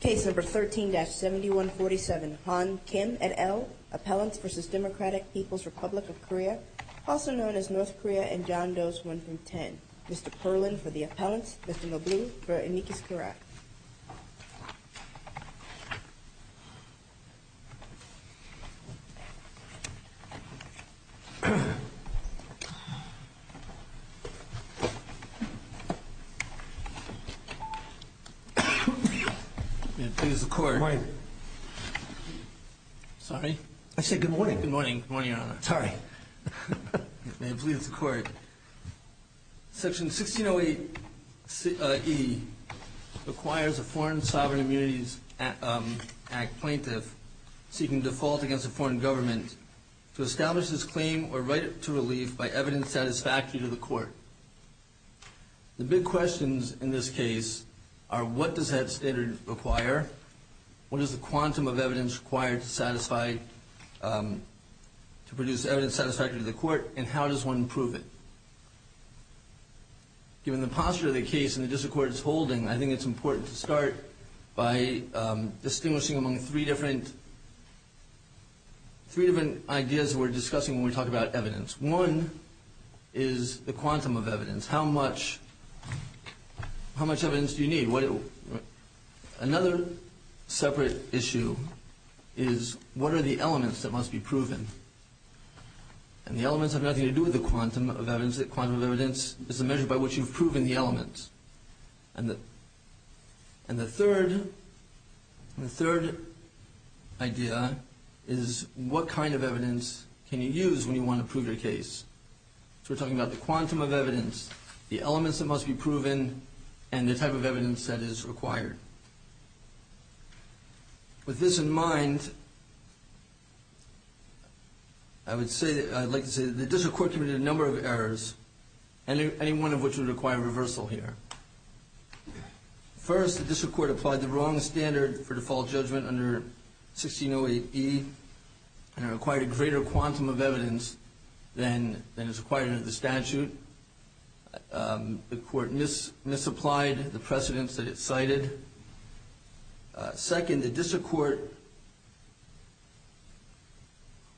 Case No. 13-7147, Han Kim et al., Appellants v. Democratic People's Republic of Korea, also known as North Korea and John Doe's 1 from 10. Mr. Perlin for the appellants, Mr. LeBlanc for Enriquez-Carrac. May it please the court. Good morning. Sorry? I said good morning. Good morning, Your Honor. Sorry. May it please the court. Section 1608E requires a Foreign Sovereign Immunities Act plaintiff seeking default against a foreign government to establish this claim or write it to relief by evidence satisfactory to the court. The big questions in this case are what does that standard require? What is the quantum of evidence required to satisfy, to produce evidence satisfactory to the court, and how does one prove it? Given the posture of the case and the discourse it's holding, I think it's important to start by distinguishing among three different, three different ideas we're discussing when we talk about evidence. One is the quantum of evidence. How much, how much evidence do you need? Another separate issue is what are the elements that must be proven? And the elements have nothing to do with the quantum of evidence. The quantum of evidence is the measure by which you've proven the elements. And the third, the third idea is what kind of evidence can you use when you want to prove your case? So we're talking about the quantum of evidence, the elements that must be proven, and the type of evidence that is required. With this in mind, I would say, I'd like to say that the district court committed a number of errors, any one of which would require reversal here. First, the district court applied the wrong standard for default judgment under 1608E, and it required a greater quantum of evidence than is required under the statute. The court misapplied the precedents that it cited. Second, the district court.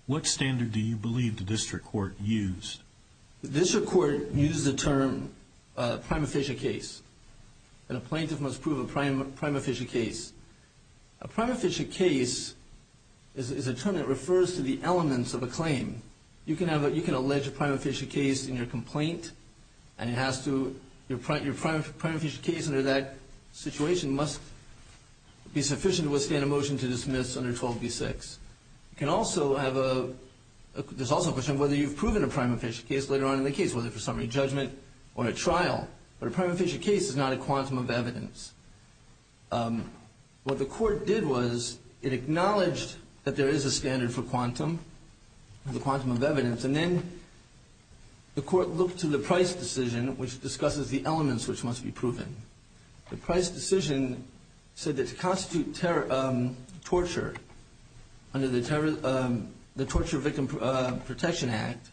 What standard do you believe the district court used? The district court used the term prima facie case, and a plaintiff must prove a prima facie case. A prima facie case is a term that refers to the elements of a claim. You can have a, you can allege a prima facie case in your complaint, and it has to, your prima facie case under that situation must be sufficient to withstand a motion to dismiss under 12B6. You can also have a, there's also a question of whether you've proven a prima facie case later on in the case, whether for summary judgment or a trial. But a prima facie case is not a quantum of evidence. What the court did was it acknowledged that there is a standard for quantum, the quantum of evidence, and then the court looked to the Price decision, which discusses the elements which must be proven. The Price decision said that to constitute torture under the Torture Victim Protection Act,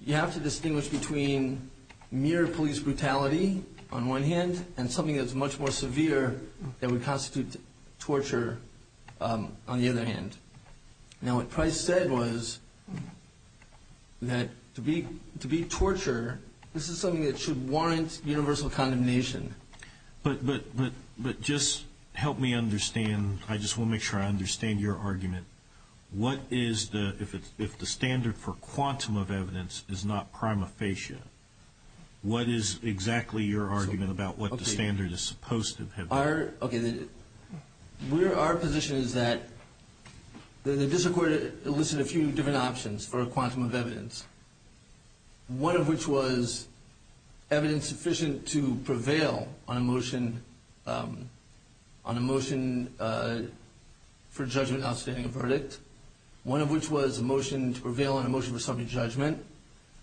you have to distinguish between mere police brutality on one hand, and something that's much more severe that would constitute torture on the other hand. Now what Price said was that to be, to be torture, this is something that should warrant universal condemnation. But, but, but, but just help me understand, I just want to make sure I understand your argument. What is the, if it's, if the standard for quantum of evidence is not prima facie, what is exactly your argument about what the standard is supposed to have been? Our, okay, we're, our position is that the district court elicited a few different options for a quantum of evidence. One of which was evidence sufficient to prevail on a motion, on a motion for judgment outstanding a verdict. One of which was a motion to prevail on a motion for summary judgment.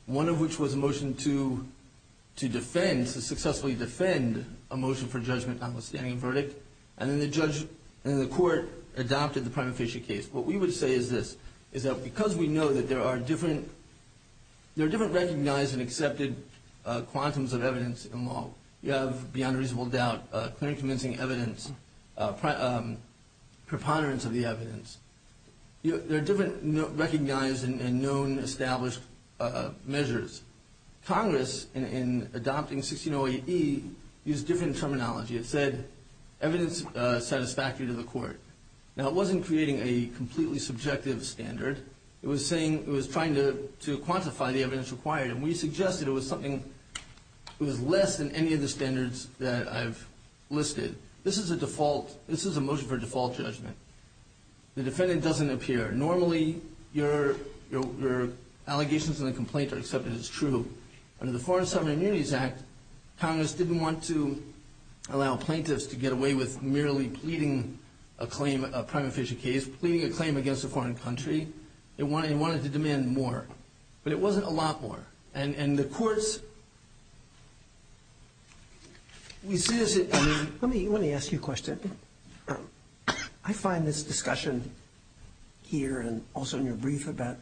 One of which was a motion to, to defend, to successfully defend a motion for judgment on a standing verdict. And then the judge, and the court adopted the prima facie case. What we would say is this, is that because we know that there are different, there are different recognized and accepted quantums of evidence in law. You have beyond reasonable doubt, clear and convincing evidence, preponderance of the evidence. There are different recognized and known established measures. Congress, in adopting 1608E, used different terminology. It said evidence satisfactory to the court. Now it wasn't creating a completely subjective standard. It was saying, it was trying to, to quantify the evidence required. And we suggested it was something, it was less than any of the standards that I've listed. This is a default, this is a motion for default judgment. The defendant doesn't appear. Normally, your, your, your allegations in the complaint are accepted as true. Under the Foreign and Sovereign Immunities Act, Congress didn't want to allow plaintiffs to get away with merely pleading a claim, a prima facie case. Pleading a claim against a foreign country. It wanted, it wanted to demand more. But it wasn't a lot more. And, and the courts, we see as it, I mean. Let me, let me ask you a question. I find this discussion here and also in your brief about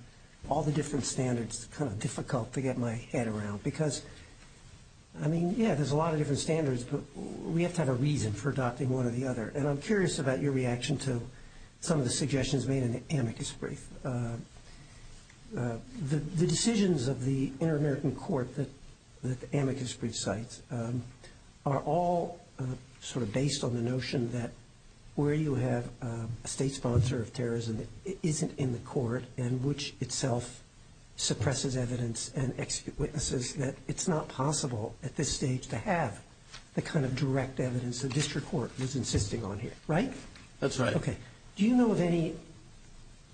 all the different standards kind of difficult to get my head around. Because, I mean, yeah, there's a lot of different standards, but we have to have a reason for adopting one or the other. And I'm curious about your reaction to some of the suggestions made in the amicus brief. The decisions of the Inter-American Court that the amicus brief cites are all sort of based on the notion that where you have a state sponsor of terrorism that isn't in the court and which itself suppresses evidence and executes witnesses, that it's not possible at this stage to have the kind of direct evidence the district court was insisting on here. Right? That's right. Okay. Do you know of any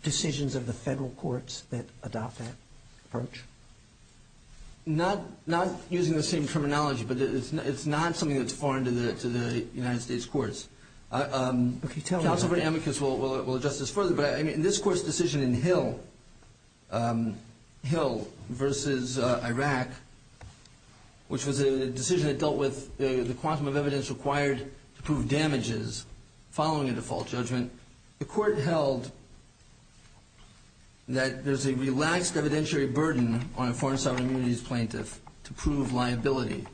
decisions of the federal courts that adopt that approach? Not, not using the same terminology, but it's not, it's not something that's foreign to the, to the United States courts. Okay, tell me. I think the court amicus will adjust this further, but in this court's decision in Hill, Hill versus Iraq, which was a decision that dealt with the quantum of evidence required to prove damages following a default judgment, the court held that there's a relaxed evidentiary burden on a foreign sovereign immunities plaintiff to prove liability.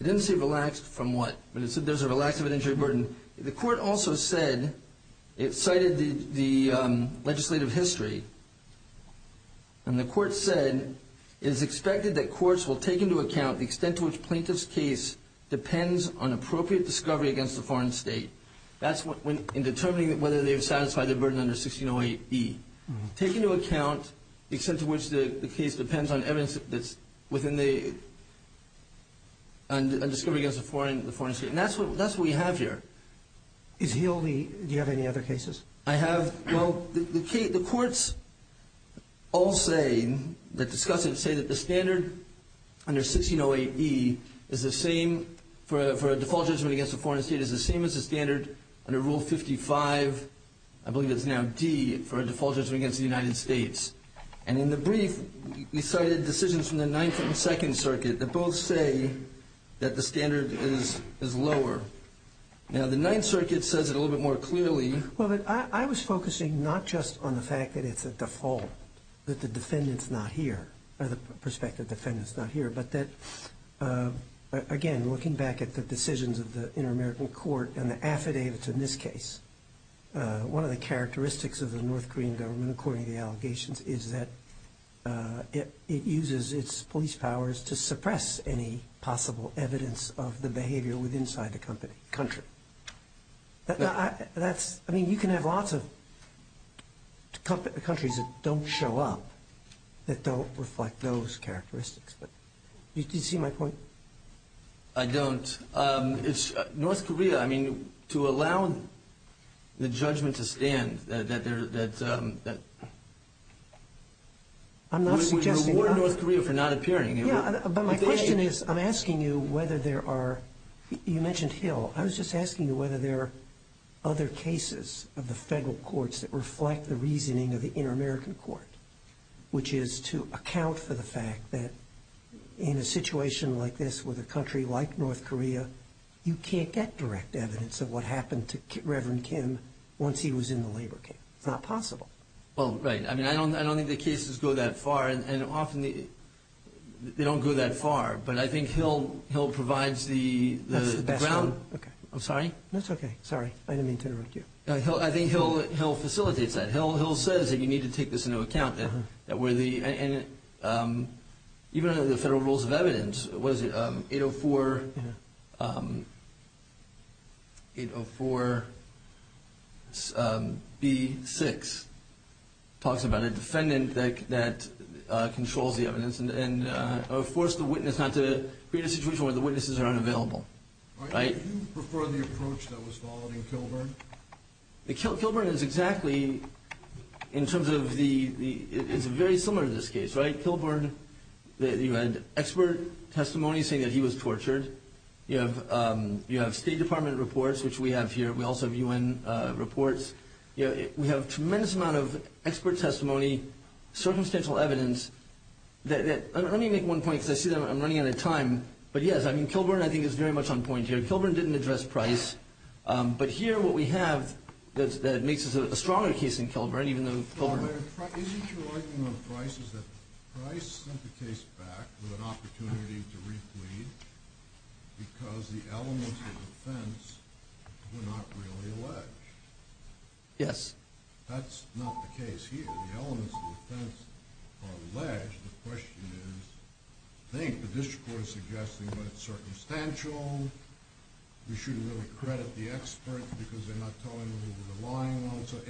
It didn't say relaxed from what? But it said there's a relaxed evidentiary burden. The court also said, it cited the legislative history, and the court said it is expected that courts will take into account the extent to which plaintiff's case depends on appropriate discovery against a foreign state. That's when, in determining whether they've satisfied their burden under 1608E. Take into account the extent to which the case depends on evidence that's within the, on discovery against a foreign, the foreign state. And that's what, that's what we have here. Is Hill the, do you have any other cases? I have, well, the, the, the courts all say, that discuss it, say that the standard under 1608E is the same for, for a default judgment against a foreign state, is the same as the standard under Rule 55, I believe it's now D, for a default judgment against the United States. And in the brief, we cited decisions from the Ninth and Second Circuit that both say that the standard is, is lower. Now, the Ninth Circuit says it a little bit more clearly. Well, but I, I was focusing not just on the fact that it's a default, that the defendant's not here, or the prospective defendant's not here, but that, again, looking back at the decisions of the Inter-American Court and the affidavits in this case, one of the characteristics of the North Korean government, according to the allegations, is that it, it uses its police powers to suppress any possible evidence of the behavior with inside the company, country. That, I, that's, I mean, you can have lots of countries that don't show up, that don't reflect those characteristics, but, you, you see my point? I don't. It's, North Korea, I mean, to allow the judgment to stand, that, that, that, that, that. I'm not suggesting that. Would reward North Korea for not appearing. Yeah, but my question is, I'm asking you whether there are, you mentioned Hill. I was just asking you whether there are other cases of the federal courts that reflect the reasoning of the Inter-American Court, which is to account for the fact that in a situation like this, with a country like North Korea, you can't get direct evidence of what happened to Reverend Kim once he was in the labor camp. It's not possible. Well, right. I mean, I don't, I don't think the cases go that far, and, and often they, they don't go that far. But I think Hill, Hill provides the, the ground. Oh, okay. I'm sorry? That's okay. Sorry. I didn't mean to interrupt you. I think Hill, Hill facilitates that. Hill, Hill says that you need to take this into account, that, that where the, and even under the federal rules of evidence, what is it, 804, 804 B6, talks about a defendant that, that controls the evidence and, or forced the witness not to create a situation where the witnesses are unavailable. Right? Do you prefer the approach that was followed in Kilburn? The, Kilburn is exactly, in terms of the, the, it's very similar to this case, right? Kilburn, you had expert testimony saying that he was tortured. You have, you have State Department reports, which we have here. We also have U.N. reports. You know, we have a tremendous amount of expert testimony, circumstantial evidence that, that, let me make one point because I see that I'm running out of time. But yes, I mean, Kilburn, I think, is very much on point here. Kilburn didn't address Price. But here what we have that, that makes this a stronger case than Kilburn, even though Kilburn. Isn't your argument on Price is that Price sent the case back with an opportunity to replead because the elements of defense were not really alleged? Yes. That's not the case here. The elements of defense are alleged. The question is, I think the district court is suggesting that it's circumstantial. We should really credit the experts because they're not telling who the lying ones are.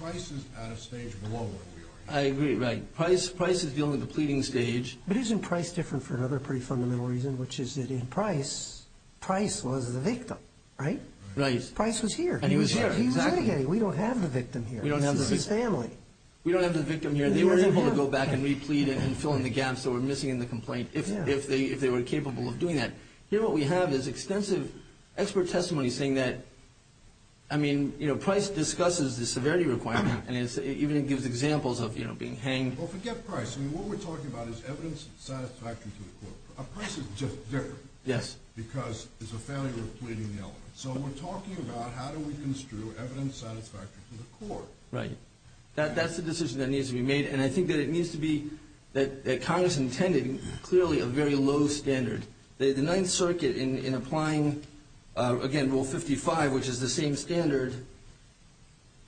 Price is at a stage below where we are. I agree, right. Price is dealing with the pleading stage. But isn't Price different for another pretty fundamental reason, which is that in Price, Price was the victim, right? Right. Price was here. And he was here. Exactly. We don't have the victim here. We don't have the victim. This is his family. We don't have the victim here. They were able to go back and replead and fill in the gaps that were missing in the complaint if they were capable of doing that. Here what we have is extensive expert testimony saying that Price discusses the severity requirement and even gives examples of being hanged. Forget Price. What we're talking about is evidence satisfactory to the court. Price is just different because it's a failure of pleading the element. So we're talking about how do we construe evidence satisfactory to the court. Right. That's the decision that needs to be made. And I think that it needs to be, that Congress intended, clearly a very low standard. The Ninth Circuit in applying, again, Rule 55, which is the same standard,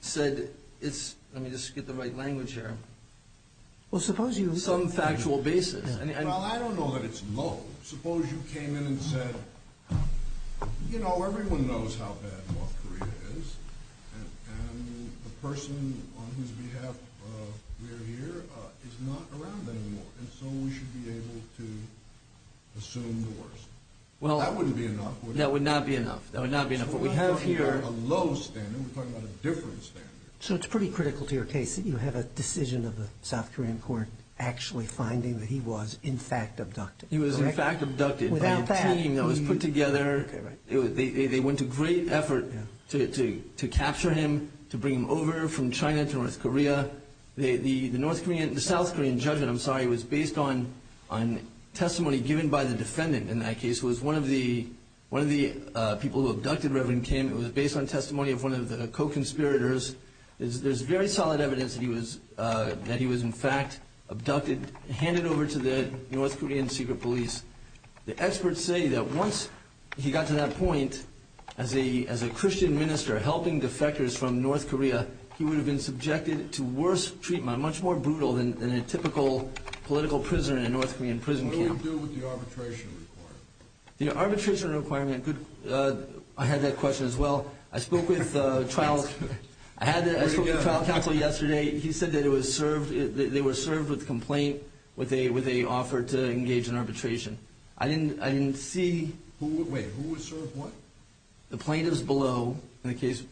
said it's, let me just get the right language here, some factual basis. Well, I don't know that it's low. Suppose you came in and said, you know, everyone knows how bad North Korea is. And the person on whose behalf we are here is not around anymore. And so we should be able to assume the worst. That wouldn't be enough. That would not be enough. That would not be enough. So we're not talking about a low standard. We're talking about a different standard. So it's pretty critical to your case that you have a decision of the South Korean court actually finding that he was, in fact, abducted. He was, in fact, abducted by a team that was put together. They went to great effort to capture him, to bring him over from China to North Korea. The South Korean judgment, I'm sorry, was based on testimony given by the defendant in that case, who was one of the people who abducted Reverend Kim. It was based on testimony of one of the co-conspirators. There's very solid evidence that he was, in fact, abducted, handed over to the North Korean secret police. The experts say that once he got to that point, as a Christian minister helping defectors from North Korea, he would have been subjected to worse treatment, much more brutal than a typical political prisoner in a North Korean prison camp. What do we do with the arbitration requirement? The arbitration requirement, I had that question as well. I spoke with trial counsel yesterday. He said that they were served with a complaint with an offer to engage in arbitration. I didn't see. Wait, who was served what? The plaintiffs below in the case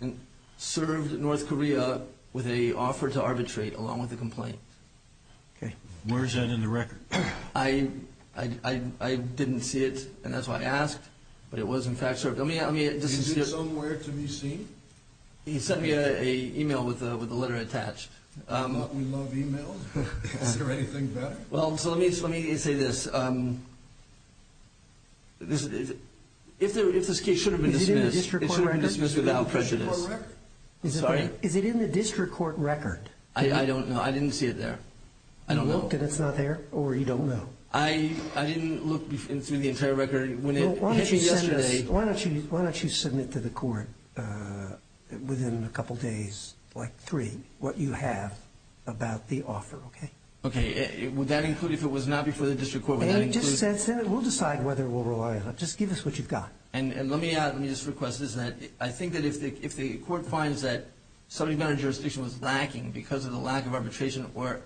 served North Korea with an offer to arbitrate along with the complaint. Okay. Where is that in the record? I didn't see it, and that's why I asked, but it was, in fact, served. Did you do somewhere to be seen? He sent me an email with the letter attached. I thought we loved emails. Is there anything better? Well, so let me say this. If this case should have been dismissed, it should have been dismissed without prejudice. Is it in the district court record? I'm sorry? Is it in the district court record? I don't know. I didn't see it there. I don't know. You looked and it's not there, or you don't know? I didn't look through the entire record. Well, why don't you send it to the court within a couple days, like three, what you have about the offer, okay? Okay. Would that include if it was not before the district court? Just send it. We'll decide whether we'll rely on it. Just give us what you've got. And let me just request this. I think that if the court finds that somebody in our jurisdiction was lacking because of the lack of arbitration or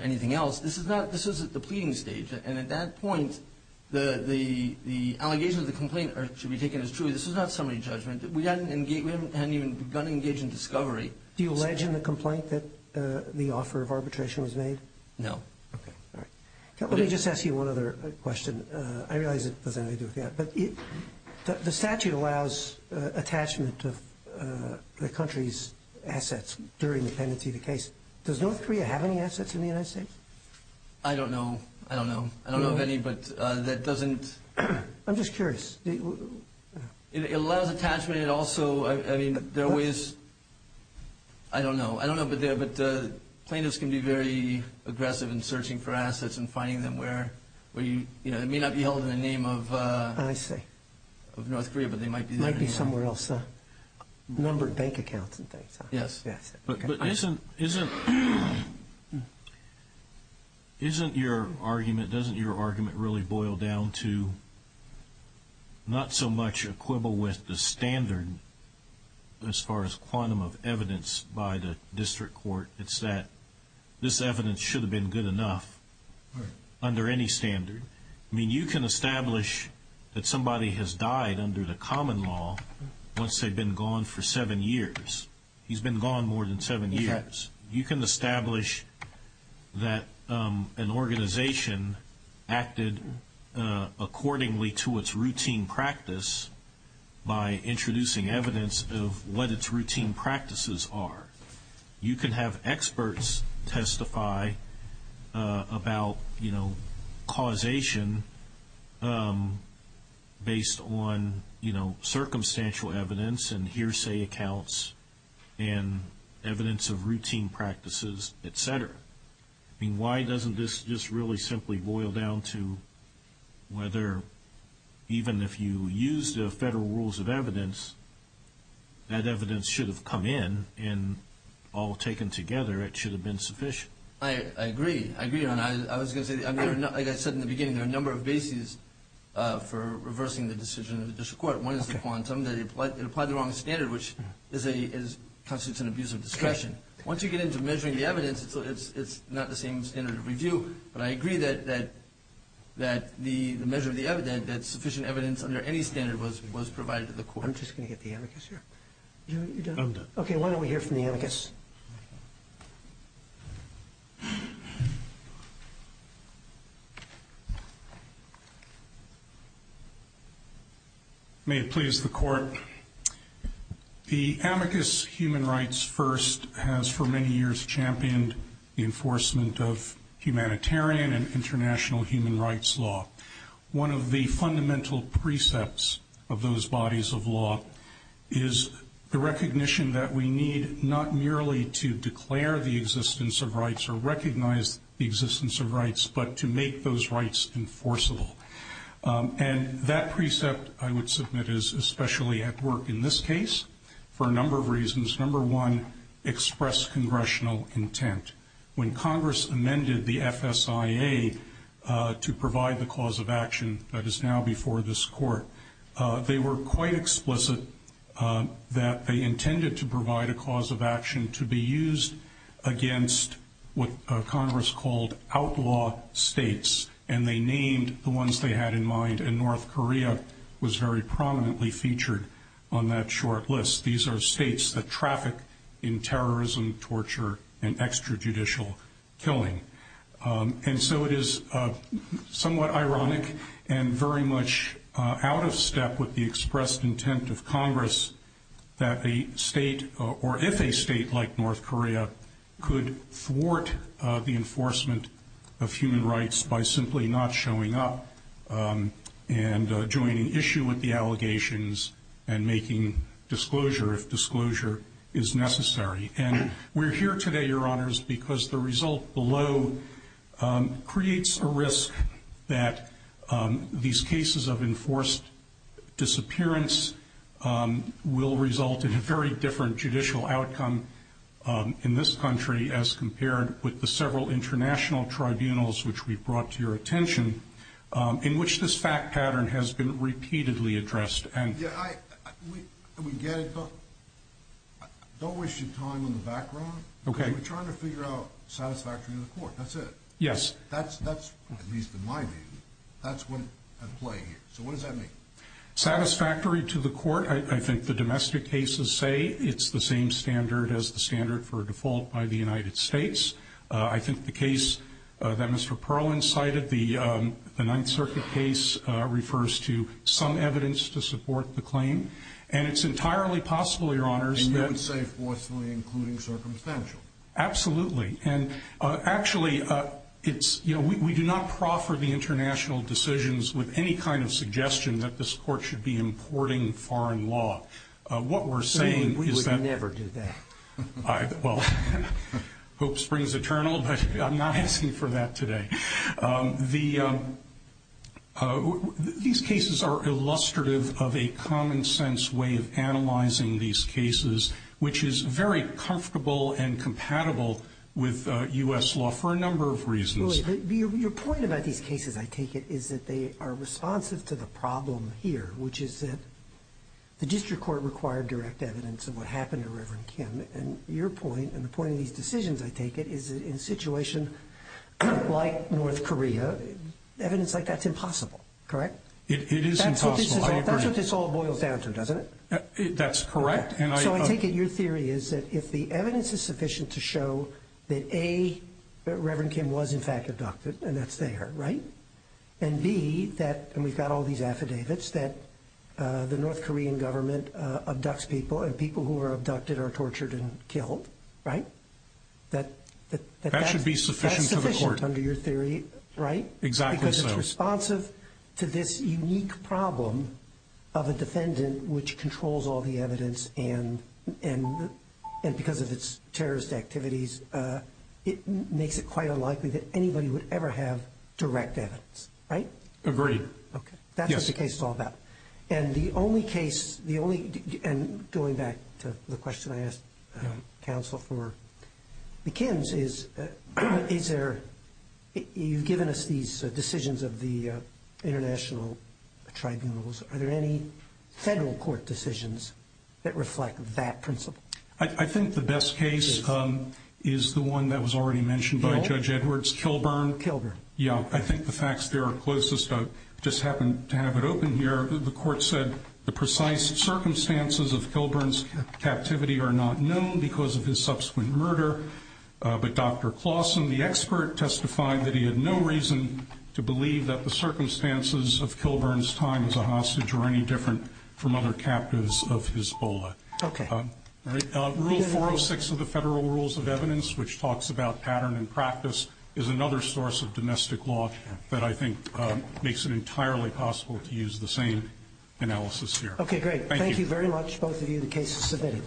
anything else, this is at the pleading stage. And at that point, the allegations of the complaint should be taken as true. This is not summary judgment. We haven't even begun to engage in discovery. Do you allege in the complaint that the offer of arbitration was made? No. Okay. All right. Let me just ask you one other question. I realize it doesn't have anything to do with that, but the statute allows attachment of the country's assets during the pendency of the case. Does North Korea have any assets in the United States? I don't know. I don't know. I don't know of any, but that doesn't – I'm just curious. It allows attachment. It also – I mean, there are ways – I don't know. I don't know, but plaintiffs can be very aggressive in searching for assets and finding them where, you know, it may not be held in the name of North Korea, but they might be there. Might be somewhere else. Numbered bank accounts and things. Yes. Yes. But isn't your argument – doesn't your argument really boil down to not so much a quibble with the standard as far as quantum of evidence by the district court? It's that this evidence should have been good enough under any standard. I mean, you can establish that somebody has died under the common law once they've been gone for seven years. He's been gone more than seven years. You can establish that an organization acted accordingly to its routine practice by introducing evidence of what its routine practices are. You can have experts testify about, you know, causation based on, you know, circumstantial evidence and hearsay accounts and evidence of routine practices, et cetera. I mean, why doesn't this just really simply boil down to whether even if you use the federal rules of evidence, that evidence should have come in and all taken together, it should have been sufficient? I agree. I agree on that. I was going to say, like I said in the beginning, there are a number of bases for reversing the decision of the district court. One is the quantum. It applied the wrong standard, which constitutes an abuse of discretion. Once you get into measuring the evidence, it's not the same standard of review. But I agree that the measure of the evidence, that sufficient evidence under any standard was provided to the court. I'm just going to get the amicus here. You're done? I'm done. Okay, why don't we hear from the amicus? May it please the Court. The amicus human rights first has for many years championed the enforcement of humanitarian and international human rights law. One of the fundamental precepts of those bodies of law is the recognition that we need not merely to declare the existence of rights or recognize the existence of rights, but to make those rights enforceable. And that precept, I would submit, is especially at work in this case for a number of reasons. Number one, express congressional intent. When Congress amended the FSIA to provide the cause of action that is now before this Court, they were quite explicit that they intended to provide a cause of action to be used against what Congress called outlaw states. And they named the ones they had in mind, and North Korea was very prominently featured on that short list. These are states that traffic in terrorism, torture, and extrajudicial killing. And so it is somewhat ironic and very much out of step with the expressed intent of Congress that a state, or if a state like North Korea, could thwart the enforcement of human rights by simply not showing up and joining issue with the allegations and making disclosure if disclosure is necessary. And we're here today, Your Honors, because the result below creates a risk that these cases of enforced disappearance will result in a very different judicial outcome in this country as compared with the several international tribunals which we've brought to your attention, in which this fact pattern has been repeatedly addressed. Yeah, we get it, but don't waste your time on the background. Okay. We're trying to figure out satisfactory to the Court. That's it. Yes. That's, at least in my view, that's what at play here. So what does that mean? Satisfactory to the Court, I think the domestic cases say it's the same standard as the standard for default by the United States. I think the case that Mr. Perlin cited, the Ninth Circuit case, refers to some evidence to support the claim. And it's entirely possible, Your Honors, that... And you would say forcefully, including circumstantial. Absolutely. And actually, it's, you know, we do not proffer the international decisions with any kind of suggestion that this Court should be importing foreign law. What we're saying is that... We would never do that. Well, hope springs eternal, but I'm not asking for that today. These cases are illustrative of a common sense way of analyzing these cases, which is very comfortable and compatible with U.S. law for a number of reasons. Your point about these cases, I take it, is that they are responsive to the problem here, which is that the district court required direct evidence of what happened to Reverend Kim. And your point and the point of these decisions, I take it, is in a situation like North Korea, evidence like that's impossible, correct? It is impossible. That's what this all boils down to, doesn't it? That's correct. So I take it your theory is that if the evidence is sufficient to show that, A, Reverend Kim was, in fact, abducted, and that's there, right? And, B, that we've got all these affidavits that the North Korean government abducts people and people who are abducted are tortured and killed, right? That should be sufficient to the Court. That's sufficient under your theory, right? Exactly so. Because it's responsive to this unique problem of a defendant which controls all the evidence and because of its terrorist activities, it makes it quite unlikely that anybody would ever have direct evidence, right? Agreed. Okay. That's what the case is all about. And the only case, the only, and going back to the question I asked counsel for the Kims is, is there, you've given us these decisions of the international tribunals. Are there any federal court decisions that reflect that principle? I think the best case is the one that was already mentioned by Judge Edwards, Kilburn. Kilburn. Yeah, I think the facts there are closest. I just happened to have it open here. The Court said the precise circumstances of Kilburn's captivity are not known because of his subsequent murder. But Dr. Clausen, the expert, testified that he had no reason to believe that the circumstances of Kilburn's time as a hostage were any different from other captives of Hisbollah. Okay. Rule 406 of the Federal Rules of Evidence, which talks about pattern and practice, is another source of domestic law that I think makes it entirely possible to use the same analysis here. Okay, great. Thank you very much, both of you. The case is submitted.